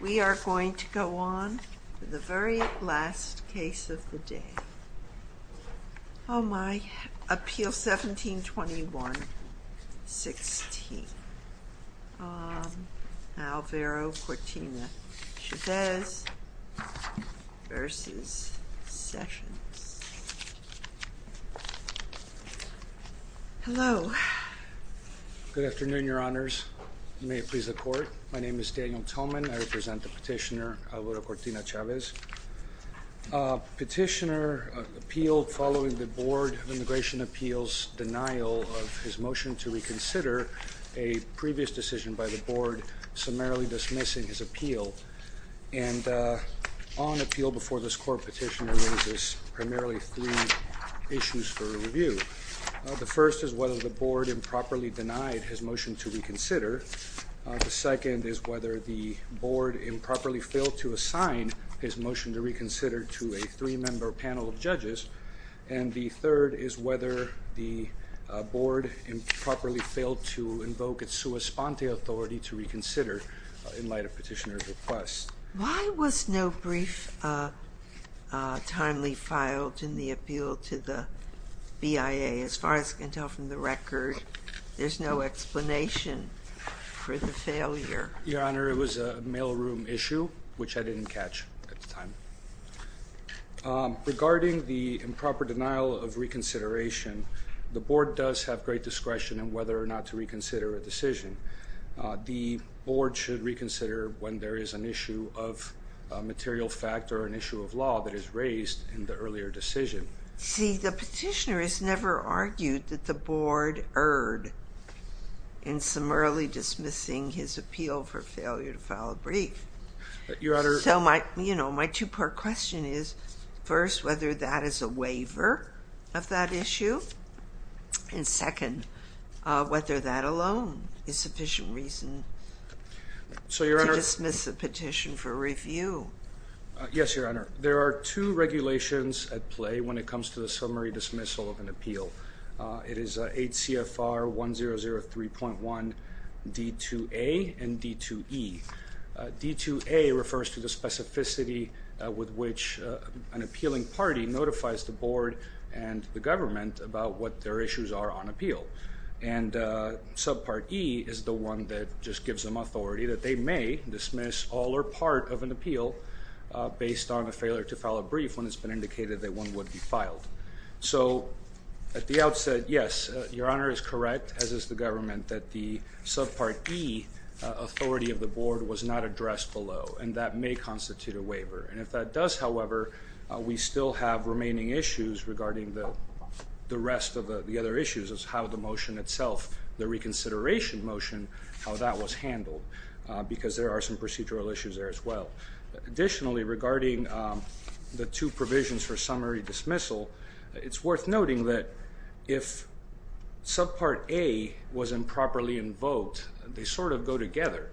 We are going to go on to the very last case of the day. Oh my, Appeal 1721-16, Alvaro Cortina-Chavez v. Sessions. Hello. Good afternoon, your honors. May it please the court. My name is Daniel Toman. I represent the petitioner, Alvaro Cortina-Chavez. Petitioner appealed following the Board of Immigration Appeals' denial of his motion to reconsider a previous decision by the board summarily dismissing his appeal. And on appeal before this court, petitioner raises primarily three issues for review. The first is whether the board improperly denied his motion to reconsider. The second is whether the board improperly failed to assign his motion to reconsider to a three-member panel of judges. And the third is whether the board improperly failed to invoke its sua sponte authority to reconsider in light of petitioner's request. Why was no brief timely filed in the appeal to the BIA? As far as I can tell from the record, there's no explanation for the failure. Your honor, it was a mailroom issue which I didn't catch at the time. Regarding the improper denial of reconsideration, the board does have great discretion in whether or not to reconsider a decision. The board should reconsider when there is an issue of material fact or an issue of law that is raised in the earlier decision. See, the petitioner has never argued that the board erred in summarily dismissing his appeal for failure to file a brief. So my two-part question is, first, whether that is a waiver of that issue, and second, whether that alone is sufficient reason to dismiss the petition for summary dismissal of an appeal. It is 8 CFR 1003.1 D2A and D2E. D2A refers to the specificity with which an appealing party notifies the board and the government about what their issues are on appeal. And subpart E is the one that just gives them authority that they may dismiss all or part of an appeal based on a failure to file a brief when it's been indicated that one would be So at the outset, yes, your honor is correct, as is the government, that the subpart E authority of the board was not addressed below, and that may constitute a waiver. And if that does, however, we still have remaining issues regarding the rest of the other issues of how the motion itself, the reconsideration motion, how that was handled, because there are some procedural issues there as regarding the two provisions for summary dismissal, it's worth noting that if subpart A was improperly invoked, they sort of go together.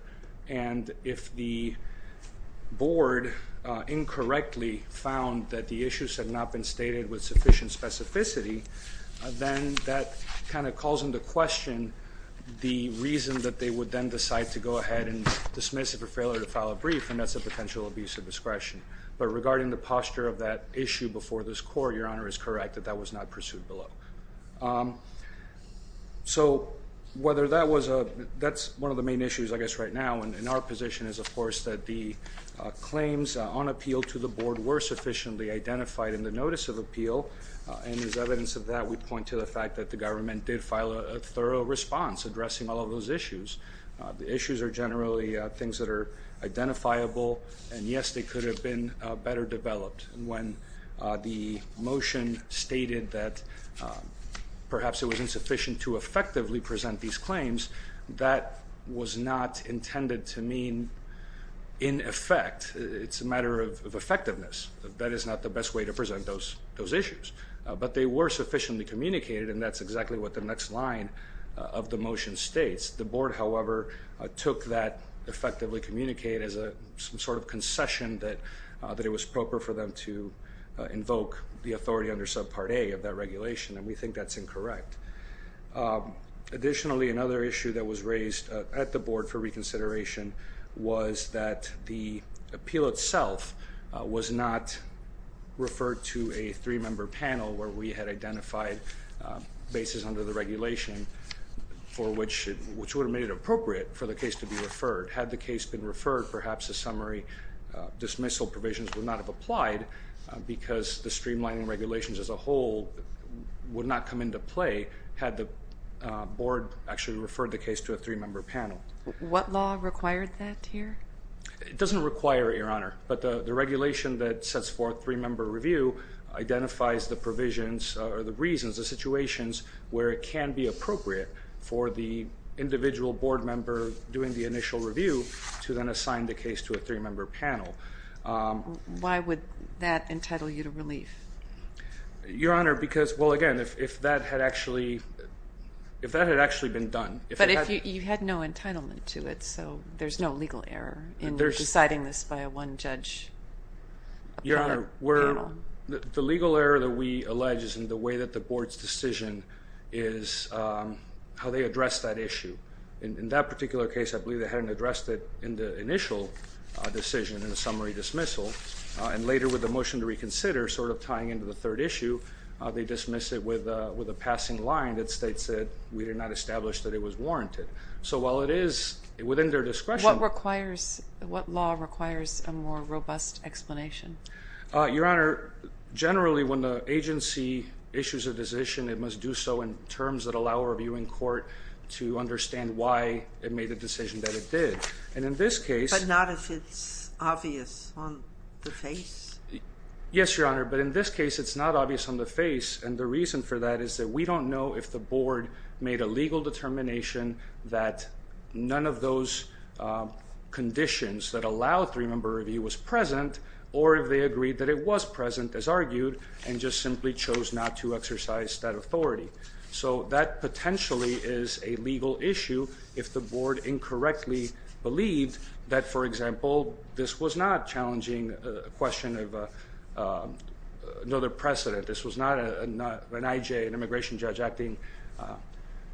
And if the board incorrectly found that the issues had not been stated with sufficient specificity, then that kind of calls into question the reason that they would then decide to go ahead and dismiss it for failure to file a brief, and that's a potential abuse of discretion. But regarding the posture of that issue before this court, your honor is correct, that that was not pursued below. So whether that was a, that's one of the main issues, I guess, right now in our position is, of course, that the claims on appeal to the board were sufficiently identified in the notice of appeal. And as evidence of that, we point to the fact that the government did file a thorough response addressing all of those issues. The issues are generally things that are identifiable, and yes, they could have been better developed when the motion stated that perhaps it was insufficient to effectively present these claims. That was not intended to mean in effect. It's a matter of effectiveness. That is not the best way to present those issues. But they were sufficiently communicated, and that's exactly what the next line of the motion states. The board, however, took that effectively communicated as some sort of concession that it was appropriate for them to invoke the authority under subpart A of that regulation, and we think that's incorrect. Additionally, another issue that was raised at the board for reconsideration was that the appeal itself was not referred to a three-member panel where we had identified bases under the regulation, which would have made it appropriate for the case to be referred. Had the case been referred, perhaps the summary dismissal provisions would not have applied because the streamlining regulations as a whole would not come into play had the board actually referred the case to a three-member panel. What law required that here? It doesn't require it, Your Honor, but the regulation that sets forth three-member review identifies the provisions or the reasons, the situations where it can be appropriate for the individual board member doing the initial review to then assign the case to a three-member panel. Why would that entitle you to relief? Your Honor, because, well, again, if that had actually if that had actually been done. But if you had no entitlement to it, so there's no legal error in deciding this by a one-judge panel. Your Honor, the legal error that we allege is in the way that the board's decision is how they address that issue. In that particular case, I believe they hadn't addressed it in the initial decision in the summary dismissal. And later with the motion to reconsider, sort of tying into the third issue, they dismiss it with a passing line that states that we did not establish that it was warranted. So while it is within their discretion. What what law requires a more robust explanation? Your Honor, generally when the agency issues a decision, it must do so in terms that allow a review in court to understand why it made the decision that it did. And in this case. But not if it's obvious on the face? Yes, Your Honor, but in this case it's not obvious on the face. And the reason for that is that we don't know if the board made a legal determination that none of those conditions that allow three-member review was present or if they agreed that it was present, as argued, and just simply chose not to exercise that authority. So that potentially is a legal issue if the board incorrectly believed that, for example, this was not challenging a question of another precedent. This was not an IJ, an immigration judge, acting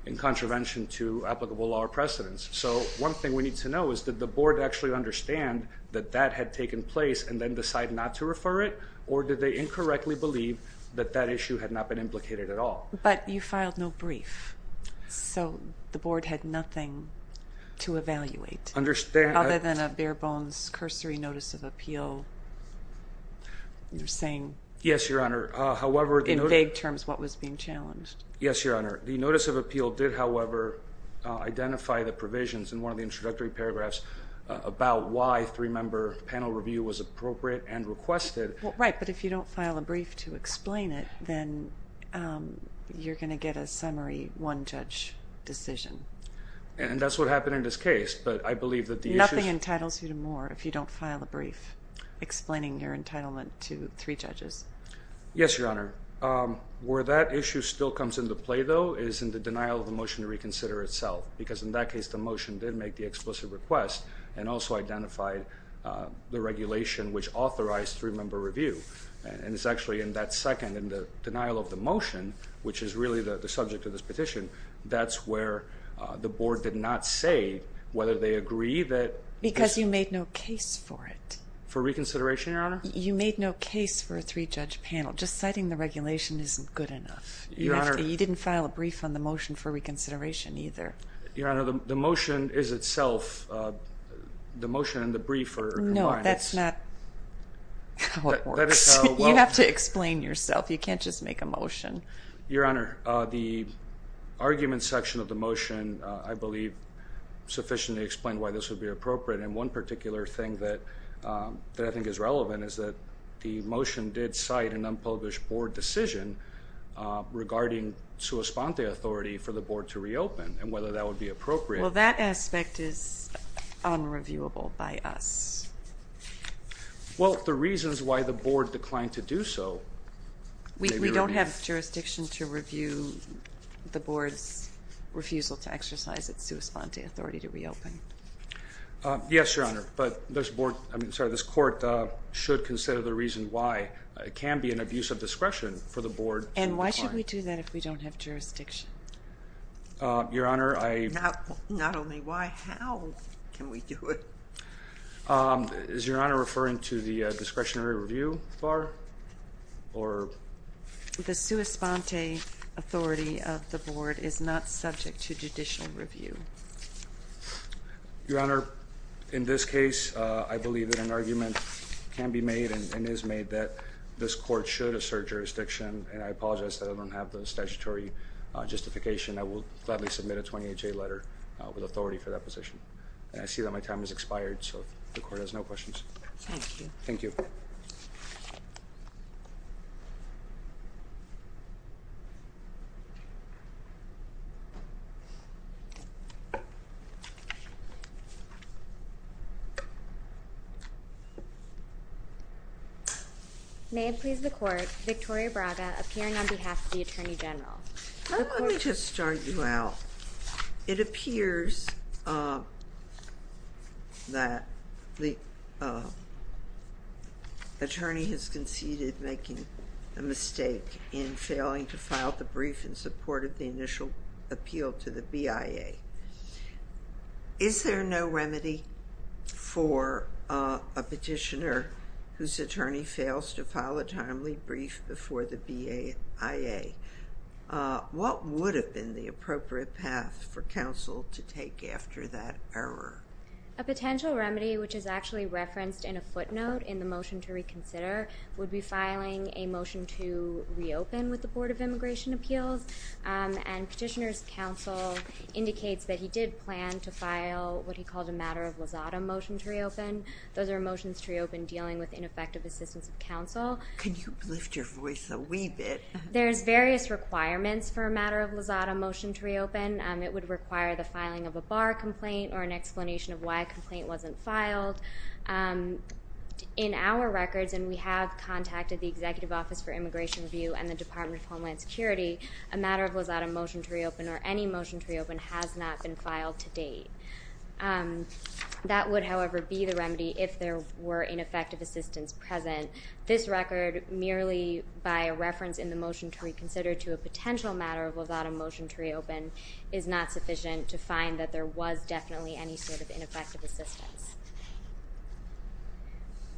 in contravention to applicable law precedents. So one thing we need to know is that the board actually understand that that had taken place and then decide not to refer it? Or did they incorrectly believe that that issue had not been implicated at all? But you filed no brief. So the board had nothing to evaluate. Understand. Other than a bare-bones cursory notice of appeal. You're saying? Yes, Your Honor. However, in vague terms, what was being challenged? Yes, Your Honor. The notice of appeal did, however, identify the provisions in one of the introductory paragraphs about why three-member panel review was appropriate and requested. Right, but if you don't file a brief to explain it, then you're going to get a summary one-judge decision. And that's what happened in this case, but I believe that the issue... Nothing entitles you to more if you don't file a brief explaining your entitlement to three members. Yes, Your Honor. Where that issue still comes into play, though, is in the denial of the motion to reconsider itself. Because in that case, the motion did make the explicit request and also identified the regulation which authorized three-member review. And it's actually in that second, in the denial of the motion, which is really the subject of this petition, that's where the board did not say whether they agree that... Because you made no case for it. For reconsideration, Your Honor? You made no case for a three-judge panel. Just citing the regulation isn't good enough. Your Honor... You didn't file a brief on the motion for reconsideration either. Your Honor, the motion is itself... The motion and the brief are combined. No, that's not how it works. You have to explain yourself. You can't just make a motion. Your Honor, the argument section of the motion, I believe, sufficiently explained why this would appropriate. And one particular thing that I think is relevant is that the motion did cite an unpublished board decision regarding sua sponte authority for the board to reopen and whether that would be appropriate. Well, that aspect is unreviewable by us. Well, the reasons why the board declined to do so... We don't have jurisdiction to review the board's refusal to exercise its authority. Yes, Your Honor, but this board... I'm sorry, this court should consider the reason why it can be an abuse of discretion for the board... And why should we do that if we don't have jurisdiction? Your Honor, I... Not only why, how can we do it? Is Your Honor referring to the discretionary review bar or... The sua sponte authority of the board is not subject to judicial review. Your Honor, in this case, I believe that an argument can be made and is made that this court should assert jurisdiction. And I apologize that I don't have the statutory justification. I will gladly submit a 28-J letter with authority for that position. And I see that my time has expired, so the court has no questions. Thank you. Thank you. May it please the court, Victoria Braga appearing on behalf of the Attorney General. Let me just start you out. It appears that the attorney has conceded making a mistake in failing to file the brief in support of the initial appeal to the BIA. Is there no remedy for a petitioner whose attorney fails to file a timely brief before the BIA? What would have been the appropriate path for counsel to take after that error? A potential remedy, which is actually referenced in a footnote in the motion to reconsider, would be filing a motion to reopen with the Board of Immigration Appeals. And Petitioner's Counsel indicates that he did plan to file what he called a matter of lazada motion to reopen. Those are motions to reopen dealing with ineffective assistance of counsel. Can you lift your voice a wee bit? There's various requirements for a matter of lazada motion to reopen. It would require the filing of a bar complaint or an explanation of why a complaint wasn't filed. In our records, and we have contacted the Executive Office for Immigration Review and the Department of Homeland Security, a matter of lazada motion to reopen or any motion to reopen has not been filed to date. That would, however, be the remedy if there were ineffective assistance present. This record, merely by a reference in the motion to reconsider to a potential matter of lazada motion to reopen, is not sufficient to find that there was definitely any sort of ineffective assistance.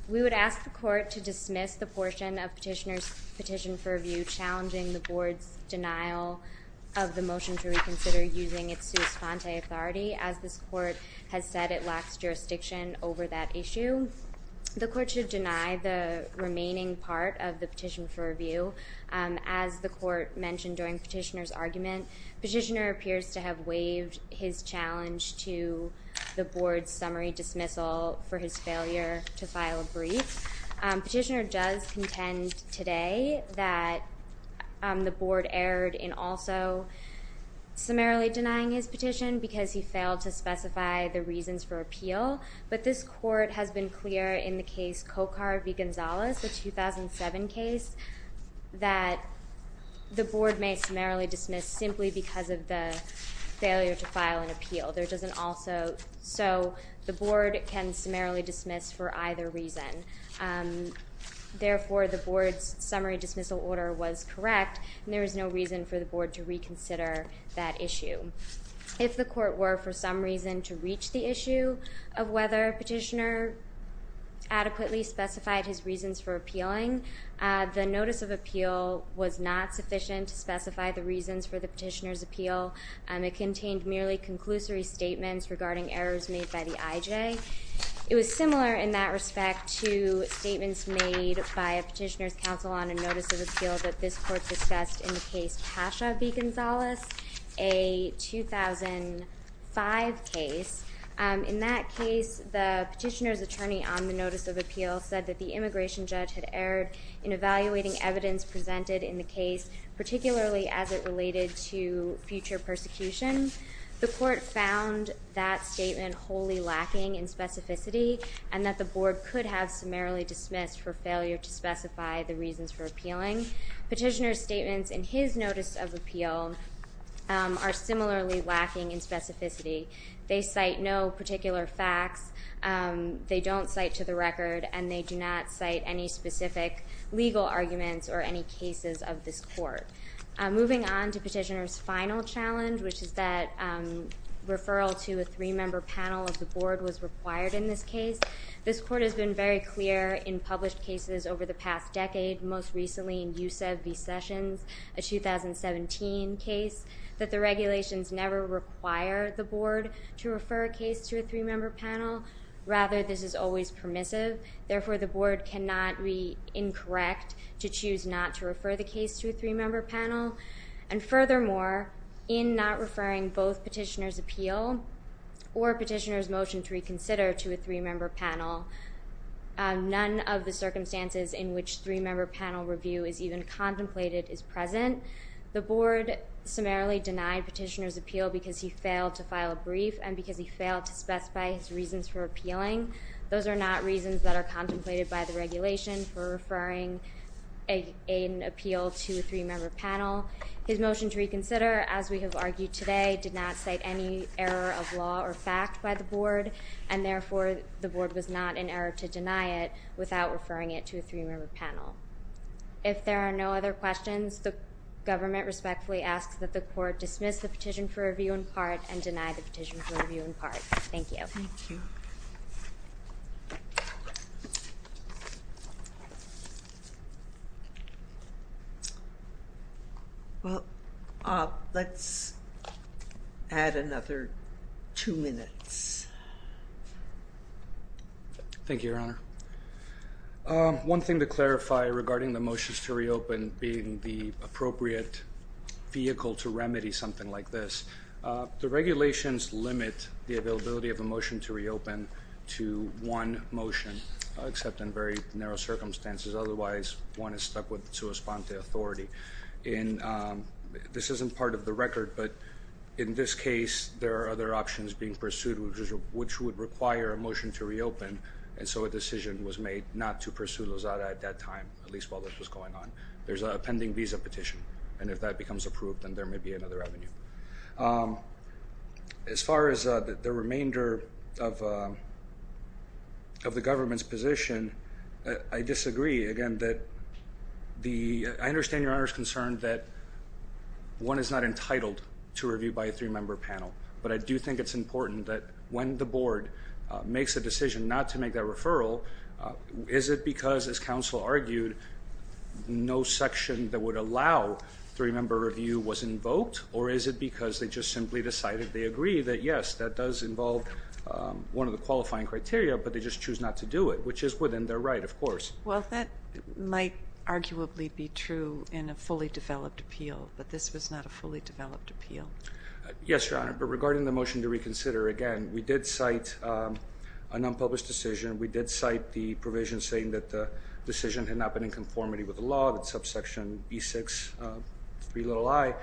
We would ask the Court to dismiss the portion of Petitioner's Petition for Review challenging the Board's denial of the motion to reconsider using its sua sponte authority. As this Court has said, it lacks jurisdiction over that issue. The Court should deny the remaining part of the Petition for Review. As the Court mentioned during Petitioner's argument, Petitioner appears to have waived his challenge to the Board's summary dismissal for his failure to file a brief. Petitioner does contend today that the Board erred in also summarily denying his petition because he failed to specify the reasons for appeal, but this Court has been clear in the case Cocar v. Gonzalez, the 2007 case, that the Board may summarily dismiss simply because of the failure to file an appeal. There doesn't also—so the Board can summarily dismiss for either reason. Therefore, the Board's summary dismissal order was correct and there is no reason for the Board to reconsider that issue. If the Court were for some reason to reach the issue of whether Petitioner adequately specified his reasons for appealing, the notice of appeal was not sufficient to specify the reasons for the Petitioner's appeal. It contained merely conclusory statements regarding errors made by the IJ. It was similar in that respect to statements made by a Petitioner's counsel on a notice of appeal that this Court discussed in the case Pasha v. Gonzalez, a 2005 case. In that case, the Petitioner's attorney on the notice of appeal said that the immigration judge had erred in evaluating evidence presented in the case, particularly as it related to future persecution. The Court found that statement wholly lacking in specificity and that the Board could have summarily dismissed for failure to specify the reasons for appealing. Petitioner's statements in his notice of appeal are similarly lacking in specificity. They cite no particular facts, they don't cite to the record, and they do not cite any specific legal arguments or any cases of this Court. Moving on to Petitioner's final challenge, which is that referral to a three-member panel of the Board was required in this case. This Court has been very clear in published cases over the past decade, most recently in Yousef v. Sessions, a 2017 case, that the regulations never require the Board to refer a case to a three-member panel. Rather, this is always permissive. Therefore, the Board did not refer a case to a three-member panel, and furthermore, in not referring both Petitioner's appeal or Petitioner's motion to reconsider to a three-member panel, none of the circumstances in which three-member panel review is even contemplated is present. The Board summarily denied Petitioner's appeal because he failed to file a brief and because he failed to specify his reasons for appealing. Those are not reasons that are contemplated by the regulation for referring an appeal to a three-member panel. His motion to reconsider, as we have argued today, did not cite any error of law or fact by the Board, and therefore, the Board was not in error to deny it without referring it to a three-member panel. If there are no other questions, the government respectfully asks that the Court dismiss the petition for review in part and deny the petition for review in part. Thank you. Well, let's add another two minutes. Thank you, Your Honor. One thing to clarify regarding the motions to reopen being the vehicle to remedy something like this, the regulations limit the availability of a motion to reopen to one motion except in very narrow circumstances. Otherwise, one is stuck with the sua sponte authority. This isn't part of the record, but in this case, there are other options being pursued which would require a motion to reopen, and so a decision was made not to pursue Lozada at that time, at least while this was going on. There's a pending visa petition, and if that becomes approved, then there may be another avenue. As far as the remainder of the government's position, I disagree. Again, I understand Your Honor's concern that one is not entitled to review by a three-member panel, but I do think it's important that when the Board makes a decision not to make that referral, is it because, as counsel argued, no section that would allow three-member review was invoked, or is it because they just simply decided they agree that, yes, that does involve one of the qualifying criteria, but they just choose not to do it, which is within their right, of course. Well, that might arguably be true in a fully developed appeal, but this was not a fully developed appeal. Yes, Your Honor, but regarding the motion to reconsider, again, we did cite an unpublished decision. We did cite the provision saying that the decision had not been in conformity with the law, that subsection B6, 3 little i,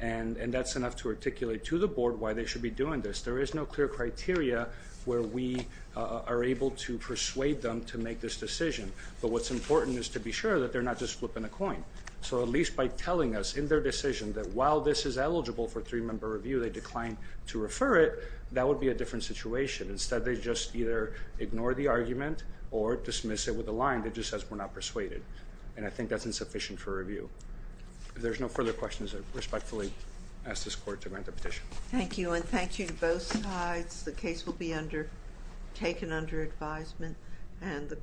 and that's enough to articulate to the Board why they should be doing this. There is no clear criteria where we are able to persuade them to make this decision, but what's important is to be sure that they're not just flipping a coin. So at least by telling us in their decision that while this is eligible for three-member review, they declined to refer it, that would be a different situation. Instead, they just either ignore the argument or dismiss it with a line that just says we're not persuaded, and I think that's insufficient for review. If there's no further questions, I respectfully ask this Court to grant the petition. Thank you, and thank you to both sides. The case will be taken under advisement, and the